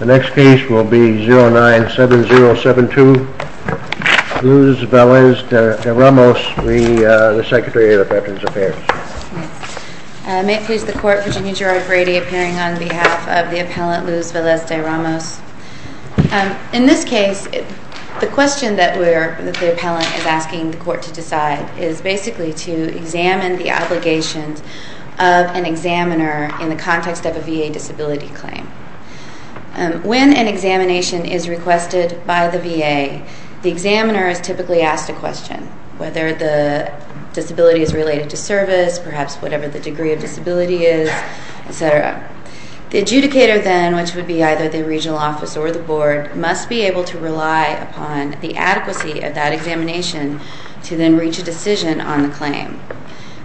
The next case will be 097072, Luz Velez de Ramos, the Secretary of Veterans Affairs. May it please the Court, Virginia Gerard Brady appearing on behalf of the appellant Luz Velez de Ramos. In this case, the question that the appellant is asking the Court to decide is basically to examine the obligations of an examiner in the context of a VA disability claim. When an examination is requested by the VA, the examiner is typically asked a question, whether the disability is related to service, perhaps whatever the degree of disability is, etc. The adjudicator then, which would be either the regional office or the board, must be able to rely upon the adequacy of that examination to then reach a decision on the claim.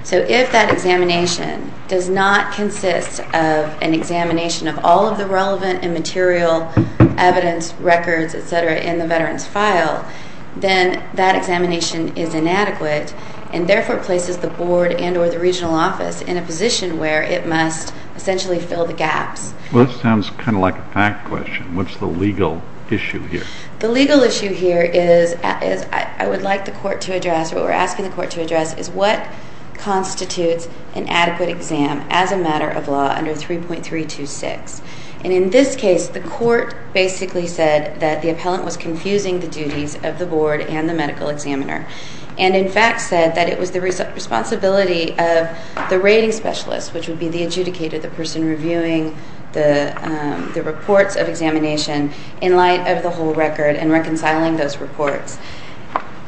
So if that examination does not consist of an examination of all of the relevant and material evidence, records, etc. in the veteran's file, then that examination is inadequate and therefore places the board and or the regional office in a position where it must essentially fill the gaps. Well, this sounds kind of like a fact question. What's the legal issue here? The legal issue here is, as I would like the Court to address, what we're asking the Court to address is what constitutes an adequate exam as a matter of law under 3.326. And in this case, the Court basically said that the appellant was confusing the duties of the board and the medical examiner. And in fact said that it was the responsibility of the rating specialist, which would be the adjudicator, the person reviewing the reports of examination in light of the whole record and reconciling those reports.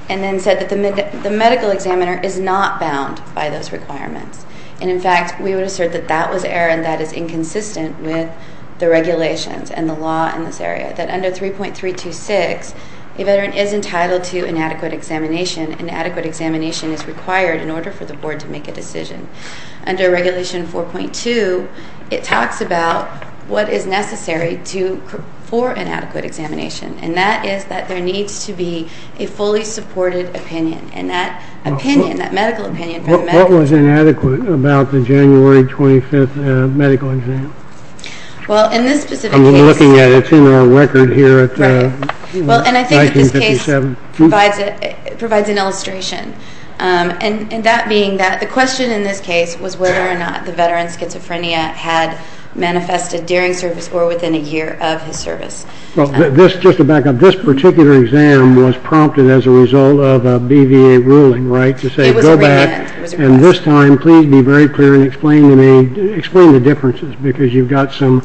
And then said that the medical examiner is not bound by those requirements. And in fact, we would assert that that was error and that is inconsistent with the regulations and the law in this area. That under 3.326, a veteran is entitled to inadequate examination. Inadequate examination is required in order for the board to make a decision. Under Regulation 4.2, it talks about what is necessary for inadequate examination. And that is that there needs to be a fully supported opinion. And that opinion, that medical opinion... What was inadequate about the January 25th medical exam? Well, in this specific case... I'm looking at it. It's in our record here. Right. Well, and I think that this case provides an illustration. And that being that the question in this case was whether or not the veteran's schizophrenia had manifested during service or within a year of his service. Well, just to back up, this particular exam was prompted as a result of a BVA ruling, right? It was a remit. And this time, please be very clear and explain to me, explain the differences. Because you've got some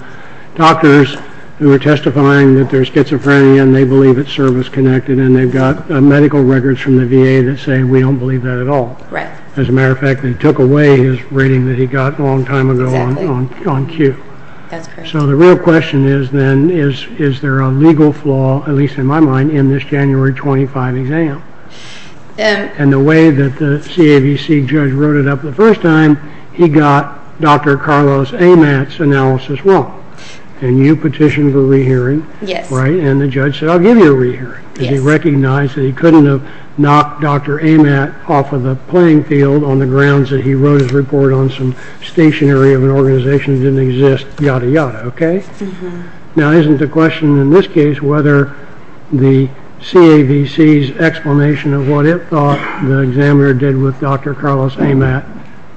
doctors who are testifying that there's schizophrenia and they believe it's service-connected. And then they've got medical records from the VA that say, we don't believe that at all. Right. As a matter of fact, they took away his rating that he got a long time ago on cue. That's correct. So the real question is then, is there a legal flaw, at least in my mind, in this January 25th exam? And the way that the CAVC judge wrote it up the first time, he got Dr. Carlos Amat's analysis wrong. And you petitioned for a rehearing. Right? And the judge said, I'll give you a rehearing. Yes. Because he recognized that he couldn't have knocked Dr. Amat off of the playing field on the grounds that he wrote his report on some stationary of an organization that didn't exist, yada, yada. Okay? Mm-hmm. Now, isn't the question in this case whether the CAVC's explanation of what it thought the examiner did with Dr. Carlos Amat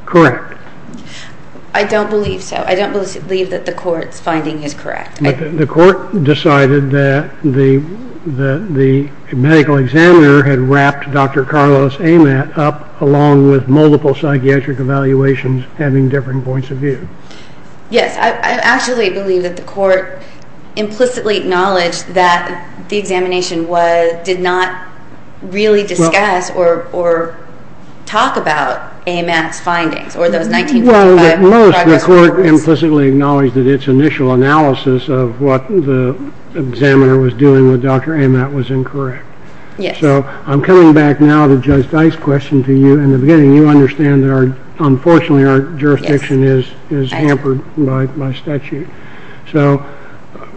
correct? I don't believe so. I don't believe that the court's finding is correct. But the court decided that the medical examiner had wrapped Dr. Carlos Amat up along with multiple psychiatric evaluations having different points of view. Yes. I actually believe that the court implicitly acknowledged that the examination did not really discuss or talk about Amat's findings or those 1945 progress reports. At most, the court implicitly acknowledged that its initial analysis of what the examiner was doing with Dr. Amat was incorrect. Yes. So I'm coming back now to Judge Dice's question to you. In the beginning, you understand that unfortunately our jurisdiction is hampered by statute. So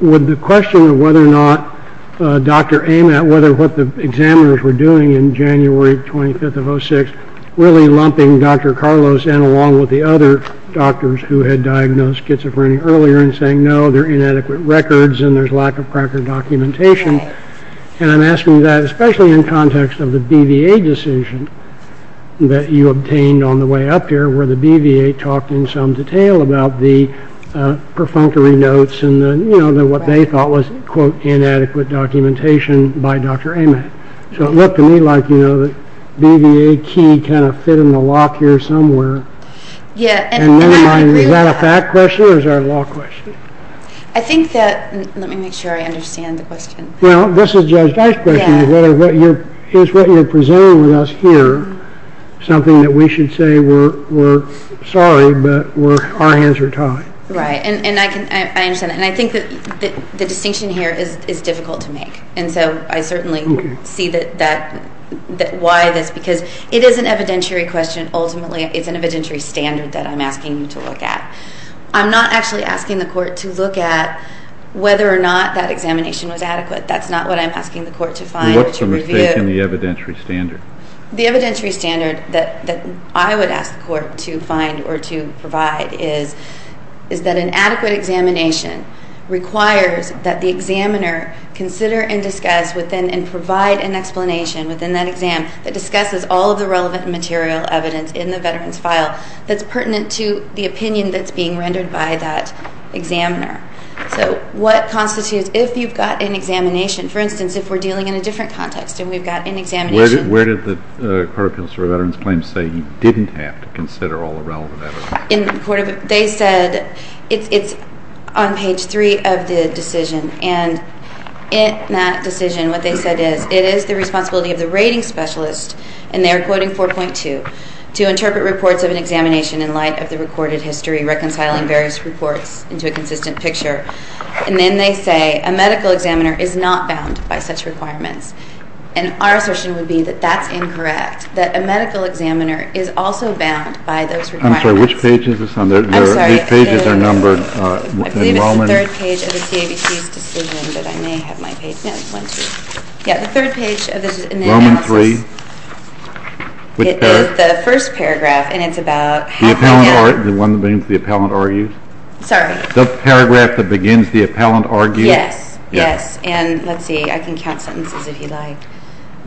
would the question of whether or not Dr. Amat, whether what the examiners were doing in January 25th of 06, really lumping Dr. Carlos and along with the other doctors who had diagnosed schizophrenia earlier and saying, no, there are inadequate records and there's lack of proper documentation. And I'm asking that especially in context of the BVA decision that you obtained on the way up here where the BVA talked in some detail about the perfunctory notes and what they thought was, quote, inadequate documentation by Dr. Amat. So it looked to me like, you know, the BVA key kind of fit in the lock here somewhere. Yeah. Is that a fact question or is that a law question? I think that, let me make sure I understand the question. Well, this is Judge Dice's question. Is what you're presenting with us here something that we should say we're sorry but our hands are tied? Right. And I understand that. And I think that the distinction here is difficult to make. And so I certainly see why this, because it is an evidentiary question ultimately. It's an evidentiary standard that I'm asking you to look at. I'm not actually asking the court to look at whether or not that examination was adequate. That's not what I'm asking the court to find or to review. What's the mistake in the evidentiary standard? The evidentiary standard that I would ask the court to find or to provide is that an adequate examination requires that the examiner consider and discuss within and provide an explanation within that exam that discusses all of the relevant material evidence in the veteran's file that's pertinent to the opinion that's being rendered by that examiner. So what constitutes if you've got an examination? For instance, if we're dealing in a different context and we've got an examination. Where did the Court of Appeals for Veterans Claims say you didn't have to consider all the relevant evidence? They said it's on page 3 of the decision. And in that decision what they said is it is the responsibility of the rating specialist, and they're quoting 4.2, to interpret reports of an examination in light of the recorded history, reconciling various reports into a consistent picture. And then they say a medical examiner is not bound by such requirements. And our assertion would be that that's incorrect, that a medical examiner is also bound by those requirements. I'm sorry, which page is this on? I'm sorry. These pages are numbered. I believe it's the third page of the CABC's decision, but I may have my page. No, it's 1-2. Yeah, the third page of the analysis. Roman 3. Which paragraph? It is the first paragraph, and it's about half way down. The one that begins the appellant argues? Sorry? The paragraph that begins the appellant argues? Yes. Yes. And let's see, I can count sentences if you'd like.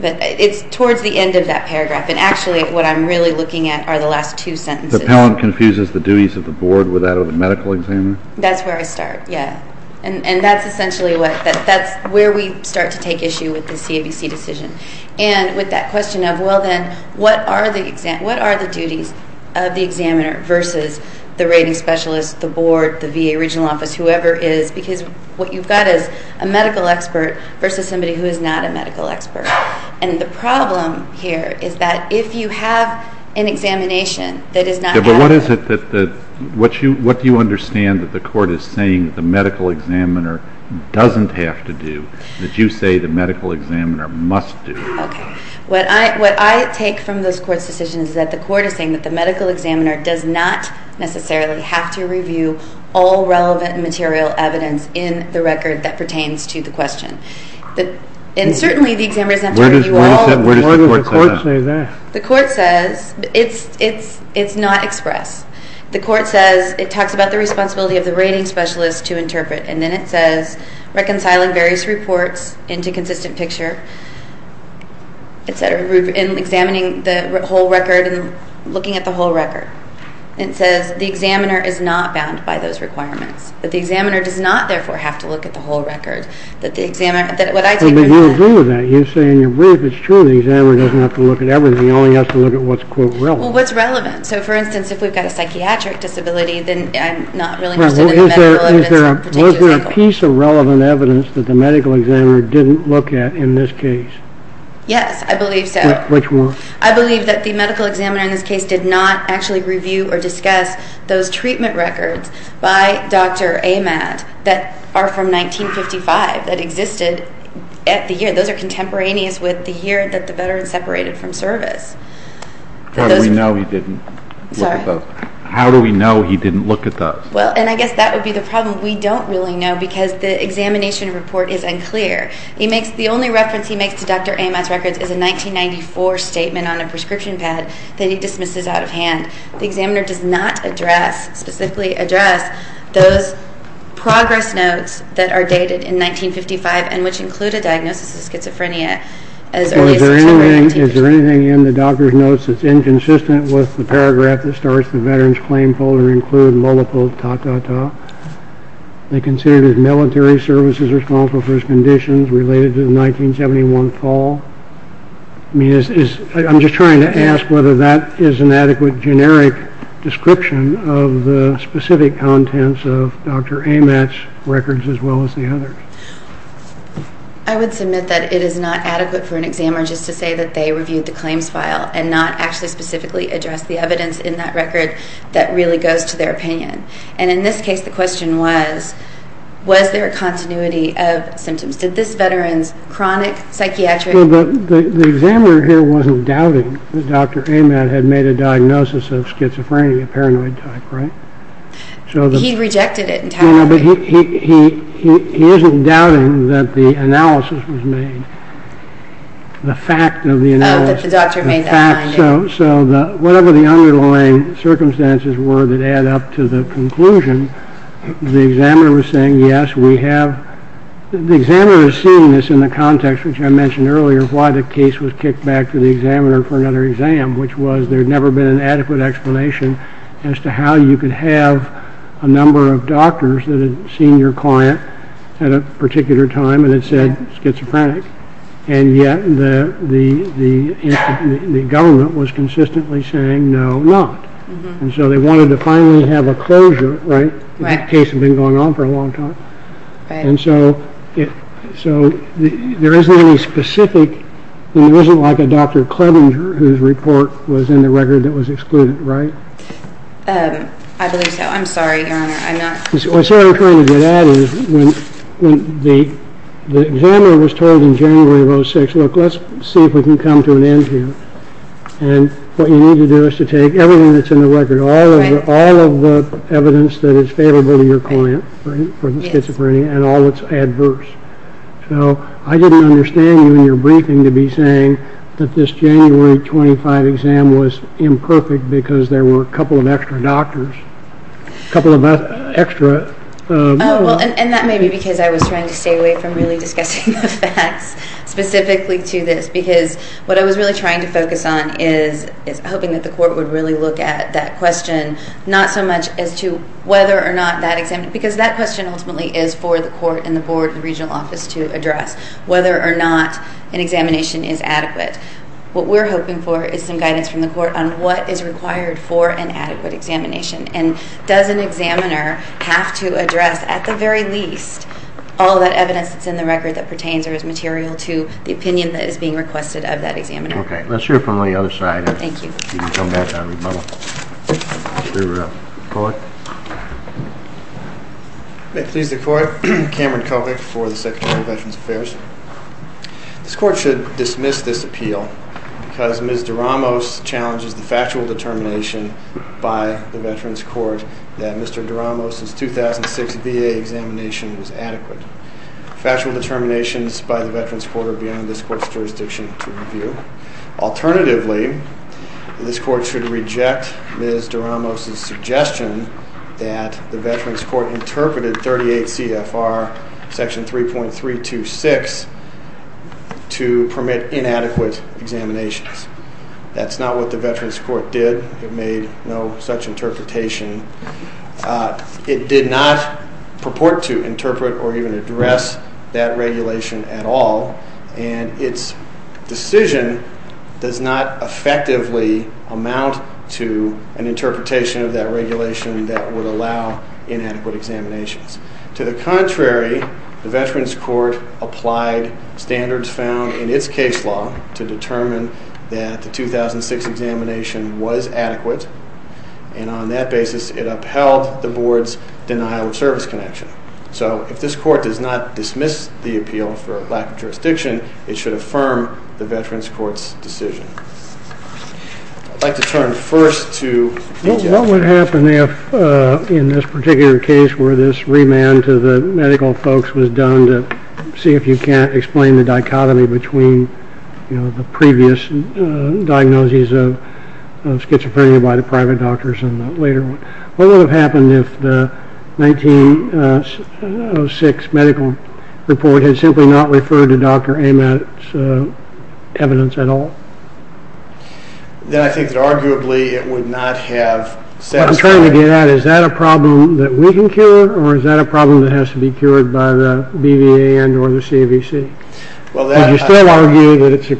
But it's towards the end of that paragraph, and actually what I'm really looking at are the last two sentences. The appellant confuses the duties of the board with that of the medical examiner? That's where I start, yeah. And that's essentially where we start to take issue with the CABC decision. And with that question of, well then, what are the duties of the examiner versus the rating specialist, the board, the VA regional office, whoever it is. Because what you've got is a medical expert versus somebody who is not a medical expert. And the problem here is that if you have an examination that does not have. Yeah, but what is it that, what do you understand that the court is saying the medical examiner doesn't have to do, that you say the medical examiner must do? Okay. What I take from this court's decision is that the court is saying that the medical examiner does not necessarily have to review all relevant material evidence in the record that pertains to the question. And certainly the examiner doesn't have to review all. Where does the court say that? The court says, it's not expressed. The court says, it talks about the responsibility of the rating specialist to interpret. And then it says, reconciling various reports into consistent picture, et cetera, and examining the whole record and looking at the whole record. It says the examiner is not bound by those requirements. But the examiner does not, therefore, have to look at the whole record. What I take from that. But you agree with that. You say in your brief, it's true, the examiner doesn't have to look at everything. He only has to look at what's, quote, relevant. Well, what's relevant? So, for instance, if we've got a psychiatric disability, then I'm not really interested in the medical evidence. Is there a piece of relevant evidence that the medical examiner didn't look at in this case? Yes, I believe so. Which one? I believe that the medical examiner in this case did not actually review or discuss those treatment records by Dr. Ahmad that are from 1955, that existed at the year. Those are contemporaneous with the year that the veteran separated from service. How do we know he didn't look at those? Well, and I guess that would be the problem. We don't really know because the examination report is unclear. The only reference he makes to Dr. Ahmad's records is a 1994 statement on a prescription pad that he dismisses out of hand. The examiner does not address, specifically address, those progress notes that are dated in 1955 and which include a diagnosis of schizophrenia as early as September 18th. So is there anything in the doctor's notes that's inconsistent with the paragraph that starts the veteran's claim folder include multiple ta-ta-ta? They consider his military services responsible for his conditions related to the 1971 fall? I'm just trying to ask whether that is an adequate generic description of the specific contents of Dr. Ahmad's records as well as the others. I would submit that it is not adequate for an examiner just to say that they reviewed the claims file and not actually specifically address the evidence in that record that really goes to their opinion. And in this case, the question was, was there a continuity of symptoms? Did this veteran's chronic psychiatric… The examiner here wasn't doubting that Dr. Ahmad had made a diagnosis of schizophrenia, paranoid type, right? He rejected it entirely. He isn't doubting that the analysis was made, the fact of the analysis. That the doctor made that finding. So whatever the underlying circumstances were that add up to the conclusion, the examiner was saying, yes, we have… The examiner is seeing this in the context, which I mentioned earlier, why the case was kicked back to the examiner for another exam, which was there had never been an adequate explanation as to how you could have a number of doctors that had seen your client at a particular time and had said schizophrenic. And yet the government was consistently saying no, not. And so they wanted to finally have a closure, right? The case had been going on for a long time. And so there isn't any specific… And there isn't like a Dr. Clebinger whose report was in the record that was excluded, right? I believe so. I'm sorry, Your Honor. What I'm trying to get at is when the examiner was told in January of 2006, look, let's see if we can come to an end here. And what you need to do is to take everything that's in the record, all of the evidence that is favorable to your client for schizophrenia and all that's adverse. So I didn't understand you in your briefing to be saying that this January 25 exam was imperfect because there were a couple of extra doctors, a couple of extra… And that may be because I was trying to stay away from really discussing the facts specifically to this because what I was really trying to focus on is hoping that the court would really look at that question, not so much as to whether or not that exam… Because that question ultimately is for the court and the board and the regional office to address, whether or not an examination is adequate. But what we're hoping for is some guidance from the court on what is required for an adequate examination. And does an examiner have to address, at the very least, all that evidence that's in the record that pertains or is material to the opinion that is being requested of that examiner? Okay. Let's hear it from the other side. Thank you. May it please the court. Cameron Kovach for the Secretary of Veterans Affairs. This court should dismiss this appeal because Ms. Doramos challenges the factual determination by the Veterans Court that Mr. Doramos' 2006 VA examination was adequate. Factual determinations by the Veterans Court are beyond this court's jurisdiction to review. Alternatively, this court should reject Ms. Doramos' suggestion that the Veterans Court interpreted 38 CFR Section 3.326 to permit inadequate examinations. That's not what the Veterans Court did. It made no such interpretation. It did not purport to interpret or even address that regulation at all. And its decision does not effectively amount to an interpretation of that regulation that would allow inadequate examinations. To the contrary, the Veterans Court applied standards found in its case law to determine that the 2006 examination was adequate. And on that basis, it upheld the board's denial of service connection. So if this court does not dismiss the appeal for lack of jurisdiction, it should affirm the Veterans Court's decision. I'd like to turn first to you, Judge. What would happen if in this particular case where this remand to the medical folks was done to see if you can't explain the dichotomy between the previous diagnoses of schizophrenia by the private doctors and the later one? What would have happened if the 1906 medical report had simply not referred to Dr. Amatt's evidence at all? Then I think that arguably it would not have satisfied... What I'm trying to get at, is that a problem that we can cure or is that a problem that has to be cured by the BVA and or the CAVC? You still argue that it's a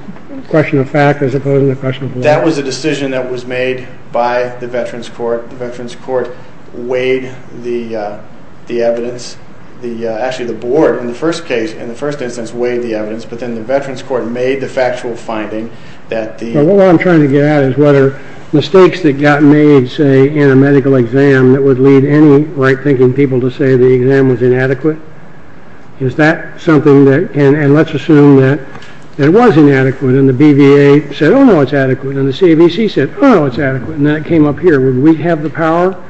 question of fact as opposed to a question of law. That was a decision that was made by the Veterans Court. The Veterans Court weighed the evidence. Actually, the board in the first instance weighed the evidence, but then the Veterans Court made the factual finding that the... What I'm trying to get at is what are mistakes that got made, say, in a medical exam that would lead any right-thinking people to say the exam was inadequate? Let's assume that it was inadequate and the BVA said, oh, no, it's adequate, and the CAVC said, oh, no, it's adequate, and then it came up here. Would we have the power?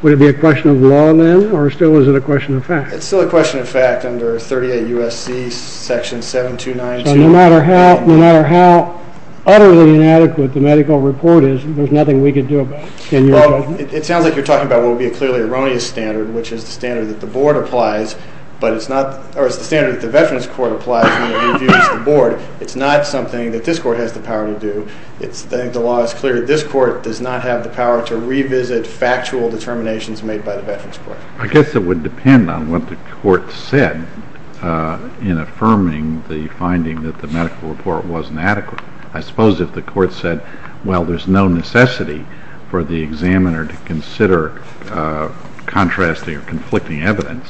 Would it be a question of law, then, or still is it a question of fact? It's still a question of fact under 38 U.S.C. section 7292. So no matter how utterly inadequate the medical report is, there's nothing we can do about it? Well, it sounds like you're talking about what would be a clearly erroneous standard, which is the standard that the board applies, or it's the standard that the Veterans Court applies when it interviews the board. It's not something that this court has the power to do. I think the law is clear that this court does not have the power to revisit factual determinations made by the Veterans Court. I guess it would depend on what the court said in affirming the finding that the medical report wasn't adequate. I suppose if the court said, well, there's no necessity for the examiner to consider contrasting or conflicting evidence,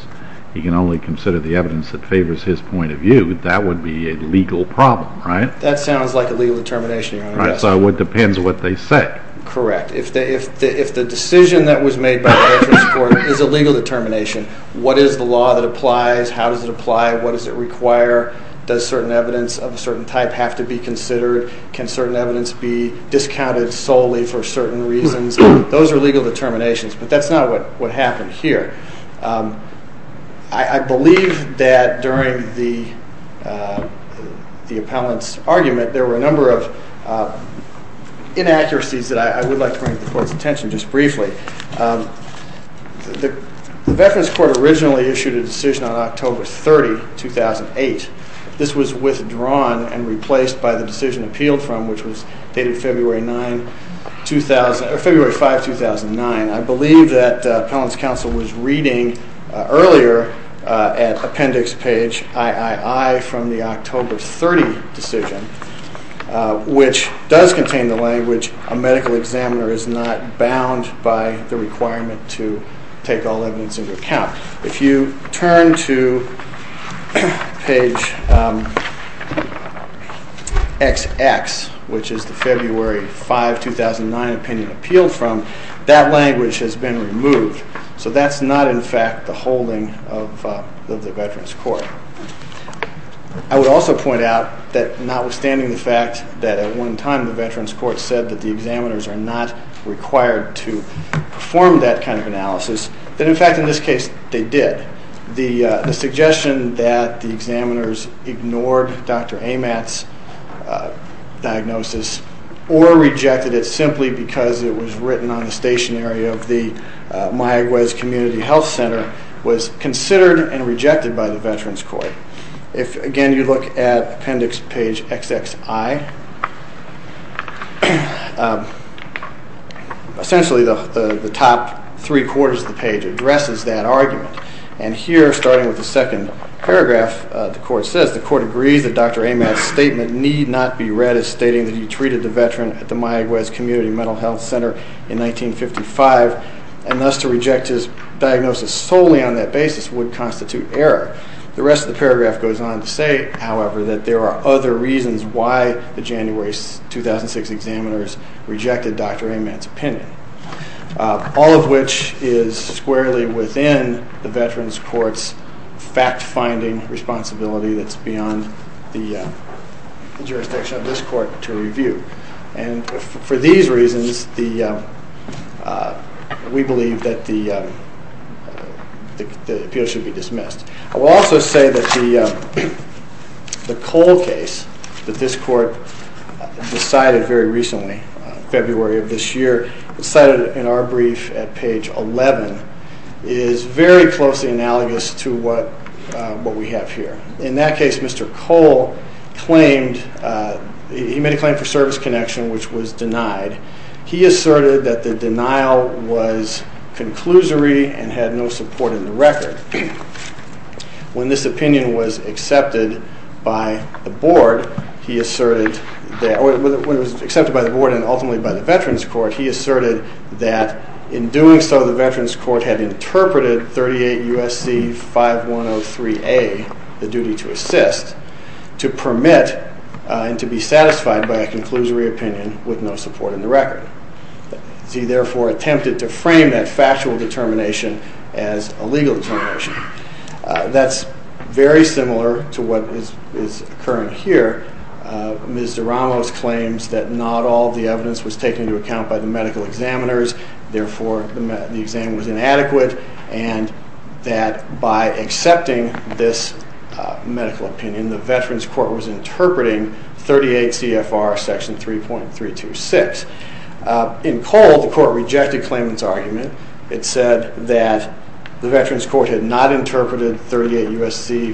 he can only consider the evidence that favors his point of view, that would be a legal problem, right? That sounds like a legal determination, Your Honor. So it depends what they said. Correct. If the decision that was made by the Veterans Court is a legal determination, what is the law that applies? How does it apply? What does it require? Does certain evidence of a certain type have to be considered? Can certain evidence be discounted solely for certain reasons? Those are legal determinations, but that's not what happened here. I believe that during the appellant's argument there were a number of inaccuracies that I would like to bring to the court's attention just briefly. The Veterans Court originally issued a decision on October 30, 2008. This was withdrawn and replaced by the decision appealed from, which was dated February 5, 2009. I believe that appellant's counsel was reading earlier at appendix page III from the October 30 decision, which does contain the language, a medical examiner is not bound by the requirement to take all evidence into account. If you turn to page XX, which is the February 5, 2009 opinion appealed from, that language has been removed. So that's not, in fact, the holding of the Veterans Court. I would also point out that notwithstanding the fact that at one time the Veterans Court said that the examiners are not required to perform that kind of analysis, that in fact in this case they did. The suggestion that the examiners ignored Dr. Amatt's diagnosis or rejected it simply because it was written on the stationery of the Mayaguez Community Health Center was considered and rejected by the Veterans Court. If, again, you look at appendix page XXI, essentially the top three-quarters of the page addresses that argument. And here, starting with the second paragraph, the court says, the court agrees that Dr. Amatt's statement need not be read as stating that he treated the veteran at the Mayaguez Community Mental Health Center in 1955 and thus to reject his diagnosis solely on that basis would constitute error. The rest of the paragraph goes on to say, however, that there are other reasons why the January 2006 examiners rejected Dr. Amatt's opinion, all of which is squarely within the Veterans Court's fact-finding responsibility that's beyond the jurisdiction of this court to review. And for these reasons, we believe that the appeal should be dismissed. I will also say that the Cole case that this court decided very recently, February of this year, cited in our brief at page 11, is very closely analogous to what we have here. In that case, Mr. Cole made a claim for service connection, which was denied. He asserted that the denial was conclusory and had no support in the record. When this opinion was accepted by the board and ultimately by the Veterans Court, he asserted that in doing so, the Veterans Court had interpreted 38 U.S.C. 5103A, the duty to assist, to permit and to be satisfied by a conclusory opinion with no support in the record. He therefore attempted to frame that factual determination as a legal determination. That's very similar to what is occurring here. Ms. Doramos claims that not all the evidence was taken into account by the medical examiners, therefore the exam was inadequate, and that by accepting this medical opinion, the Veterans Court was interpreting 38 CFR section 3.326. In Cole, the court rejected Clayman's argument. It said that the Veterans Court had not interpreted 38 U.S.C.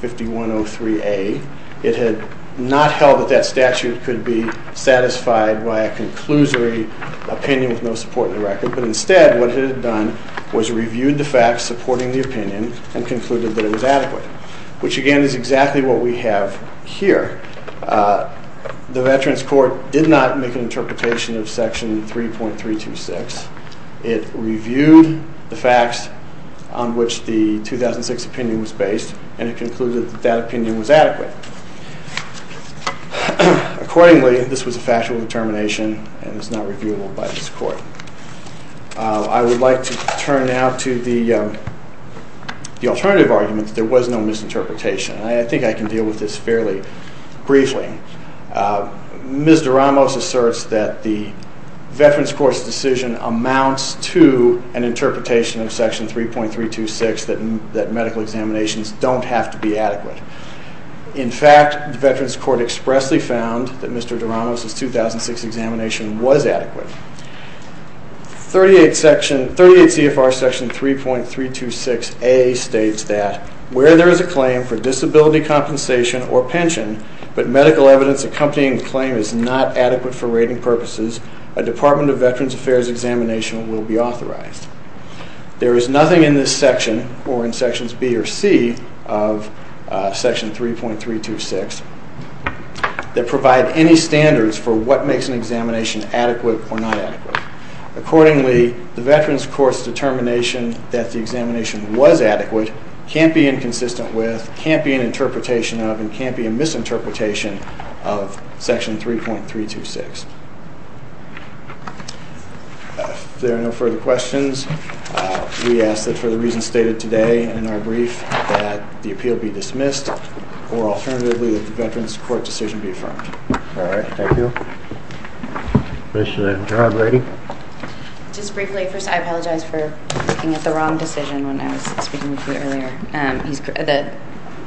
5103A. It had not held that that statute could be satisfied by a conclusory opinion with no support in the record, but instead what it had done was reviewed the facts supporting the opinion and concluded that it was adequate, which again is exactly what we have here. The Veterans Court did not make an interpretation of section 3.326. It reviewed the facts on which the 2006 opinion was based, and it concluded that that opinion was adequate. Accordingly, this was a factual determination and is not reviewable by this court. I would like to turn now to the alternative argument that there was no misinterpretation. I think I can deal with this fairly briefly. Ms. Doramos asserts that the Veterans Court's decision amounts to an interpretation of section 3.326 that medical examinations don't have to be adequate. In fact, the Veterans Court expressly found that Mr. Doramos' 2006 examination was adequate. 38 CFR section 3.326A states that where there is a claim for disability compensation or pension but medical evidence accompanying the claim is not adequate for rating purposes, a Department of Veterans Affairs examination will be authorized. There is nothing in this section or in sections B or C of section 3.326 that provide any standards for what makes an examination adequate or not adequate. Accordingly, the Veterans Court's determination that the examination was adequate can't be inconsistent with, can't be an interpretation of, and can't be a misinterpretation of section 3.326. If there are no further questions, we ask that for the reasons stated today in our brief, that the appeal be dismissed or alternatively that the Veterans Court decision be affirmed. All right. Thank you. Commissioner John Brady. Just briefly, first I apologize for looking at the wrong decision when I was speaking with you earlier.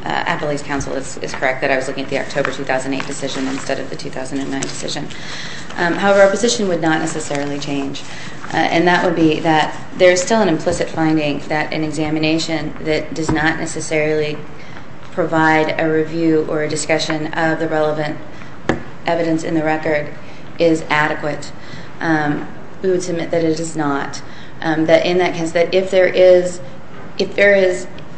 Appellee's counsel is correct that I was looking at the October 2008 decision instead of the 2009 decision. However, our position would not necessarily change, and that would be that there is still an implicit finding that an examination that does not necessarily provide a review or a discussion of the relevant evidence in the record is adequate. We would submit that it is not. In that case, if there is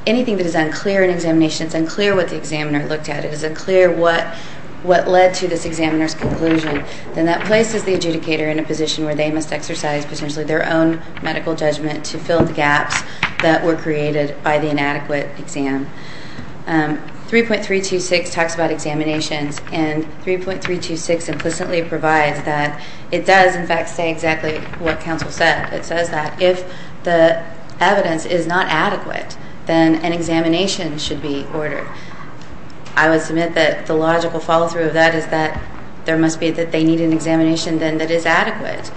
anything that is unclear in examination, it's unclear what the examiner looked at, it is unclear what led to this examiner's conclusion, then that places the adjudicator in a position where they must exercise potentially their own medical judgment to fill the gaps that were created by the inadequate exam. 3.326 talks about examinations, and 3.326 implicitly provides that it does, in fact, say exactly what counsel said. It says that if the evidence is not adequate, then an examination should be ordered. I would submit that the logical follow-through of that is that there must be that they need an examination that is adequate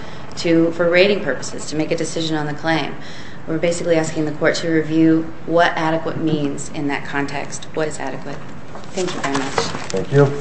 for rating purposes, to make a decision on the claim. We're basically asking the court to review what adequate means in that context, what is adequate. Thank you very much. Thank you. Pages submitted.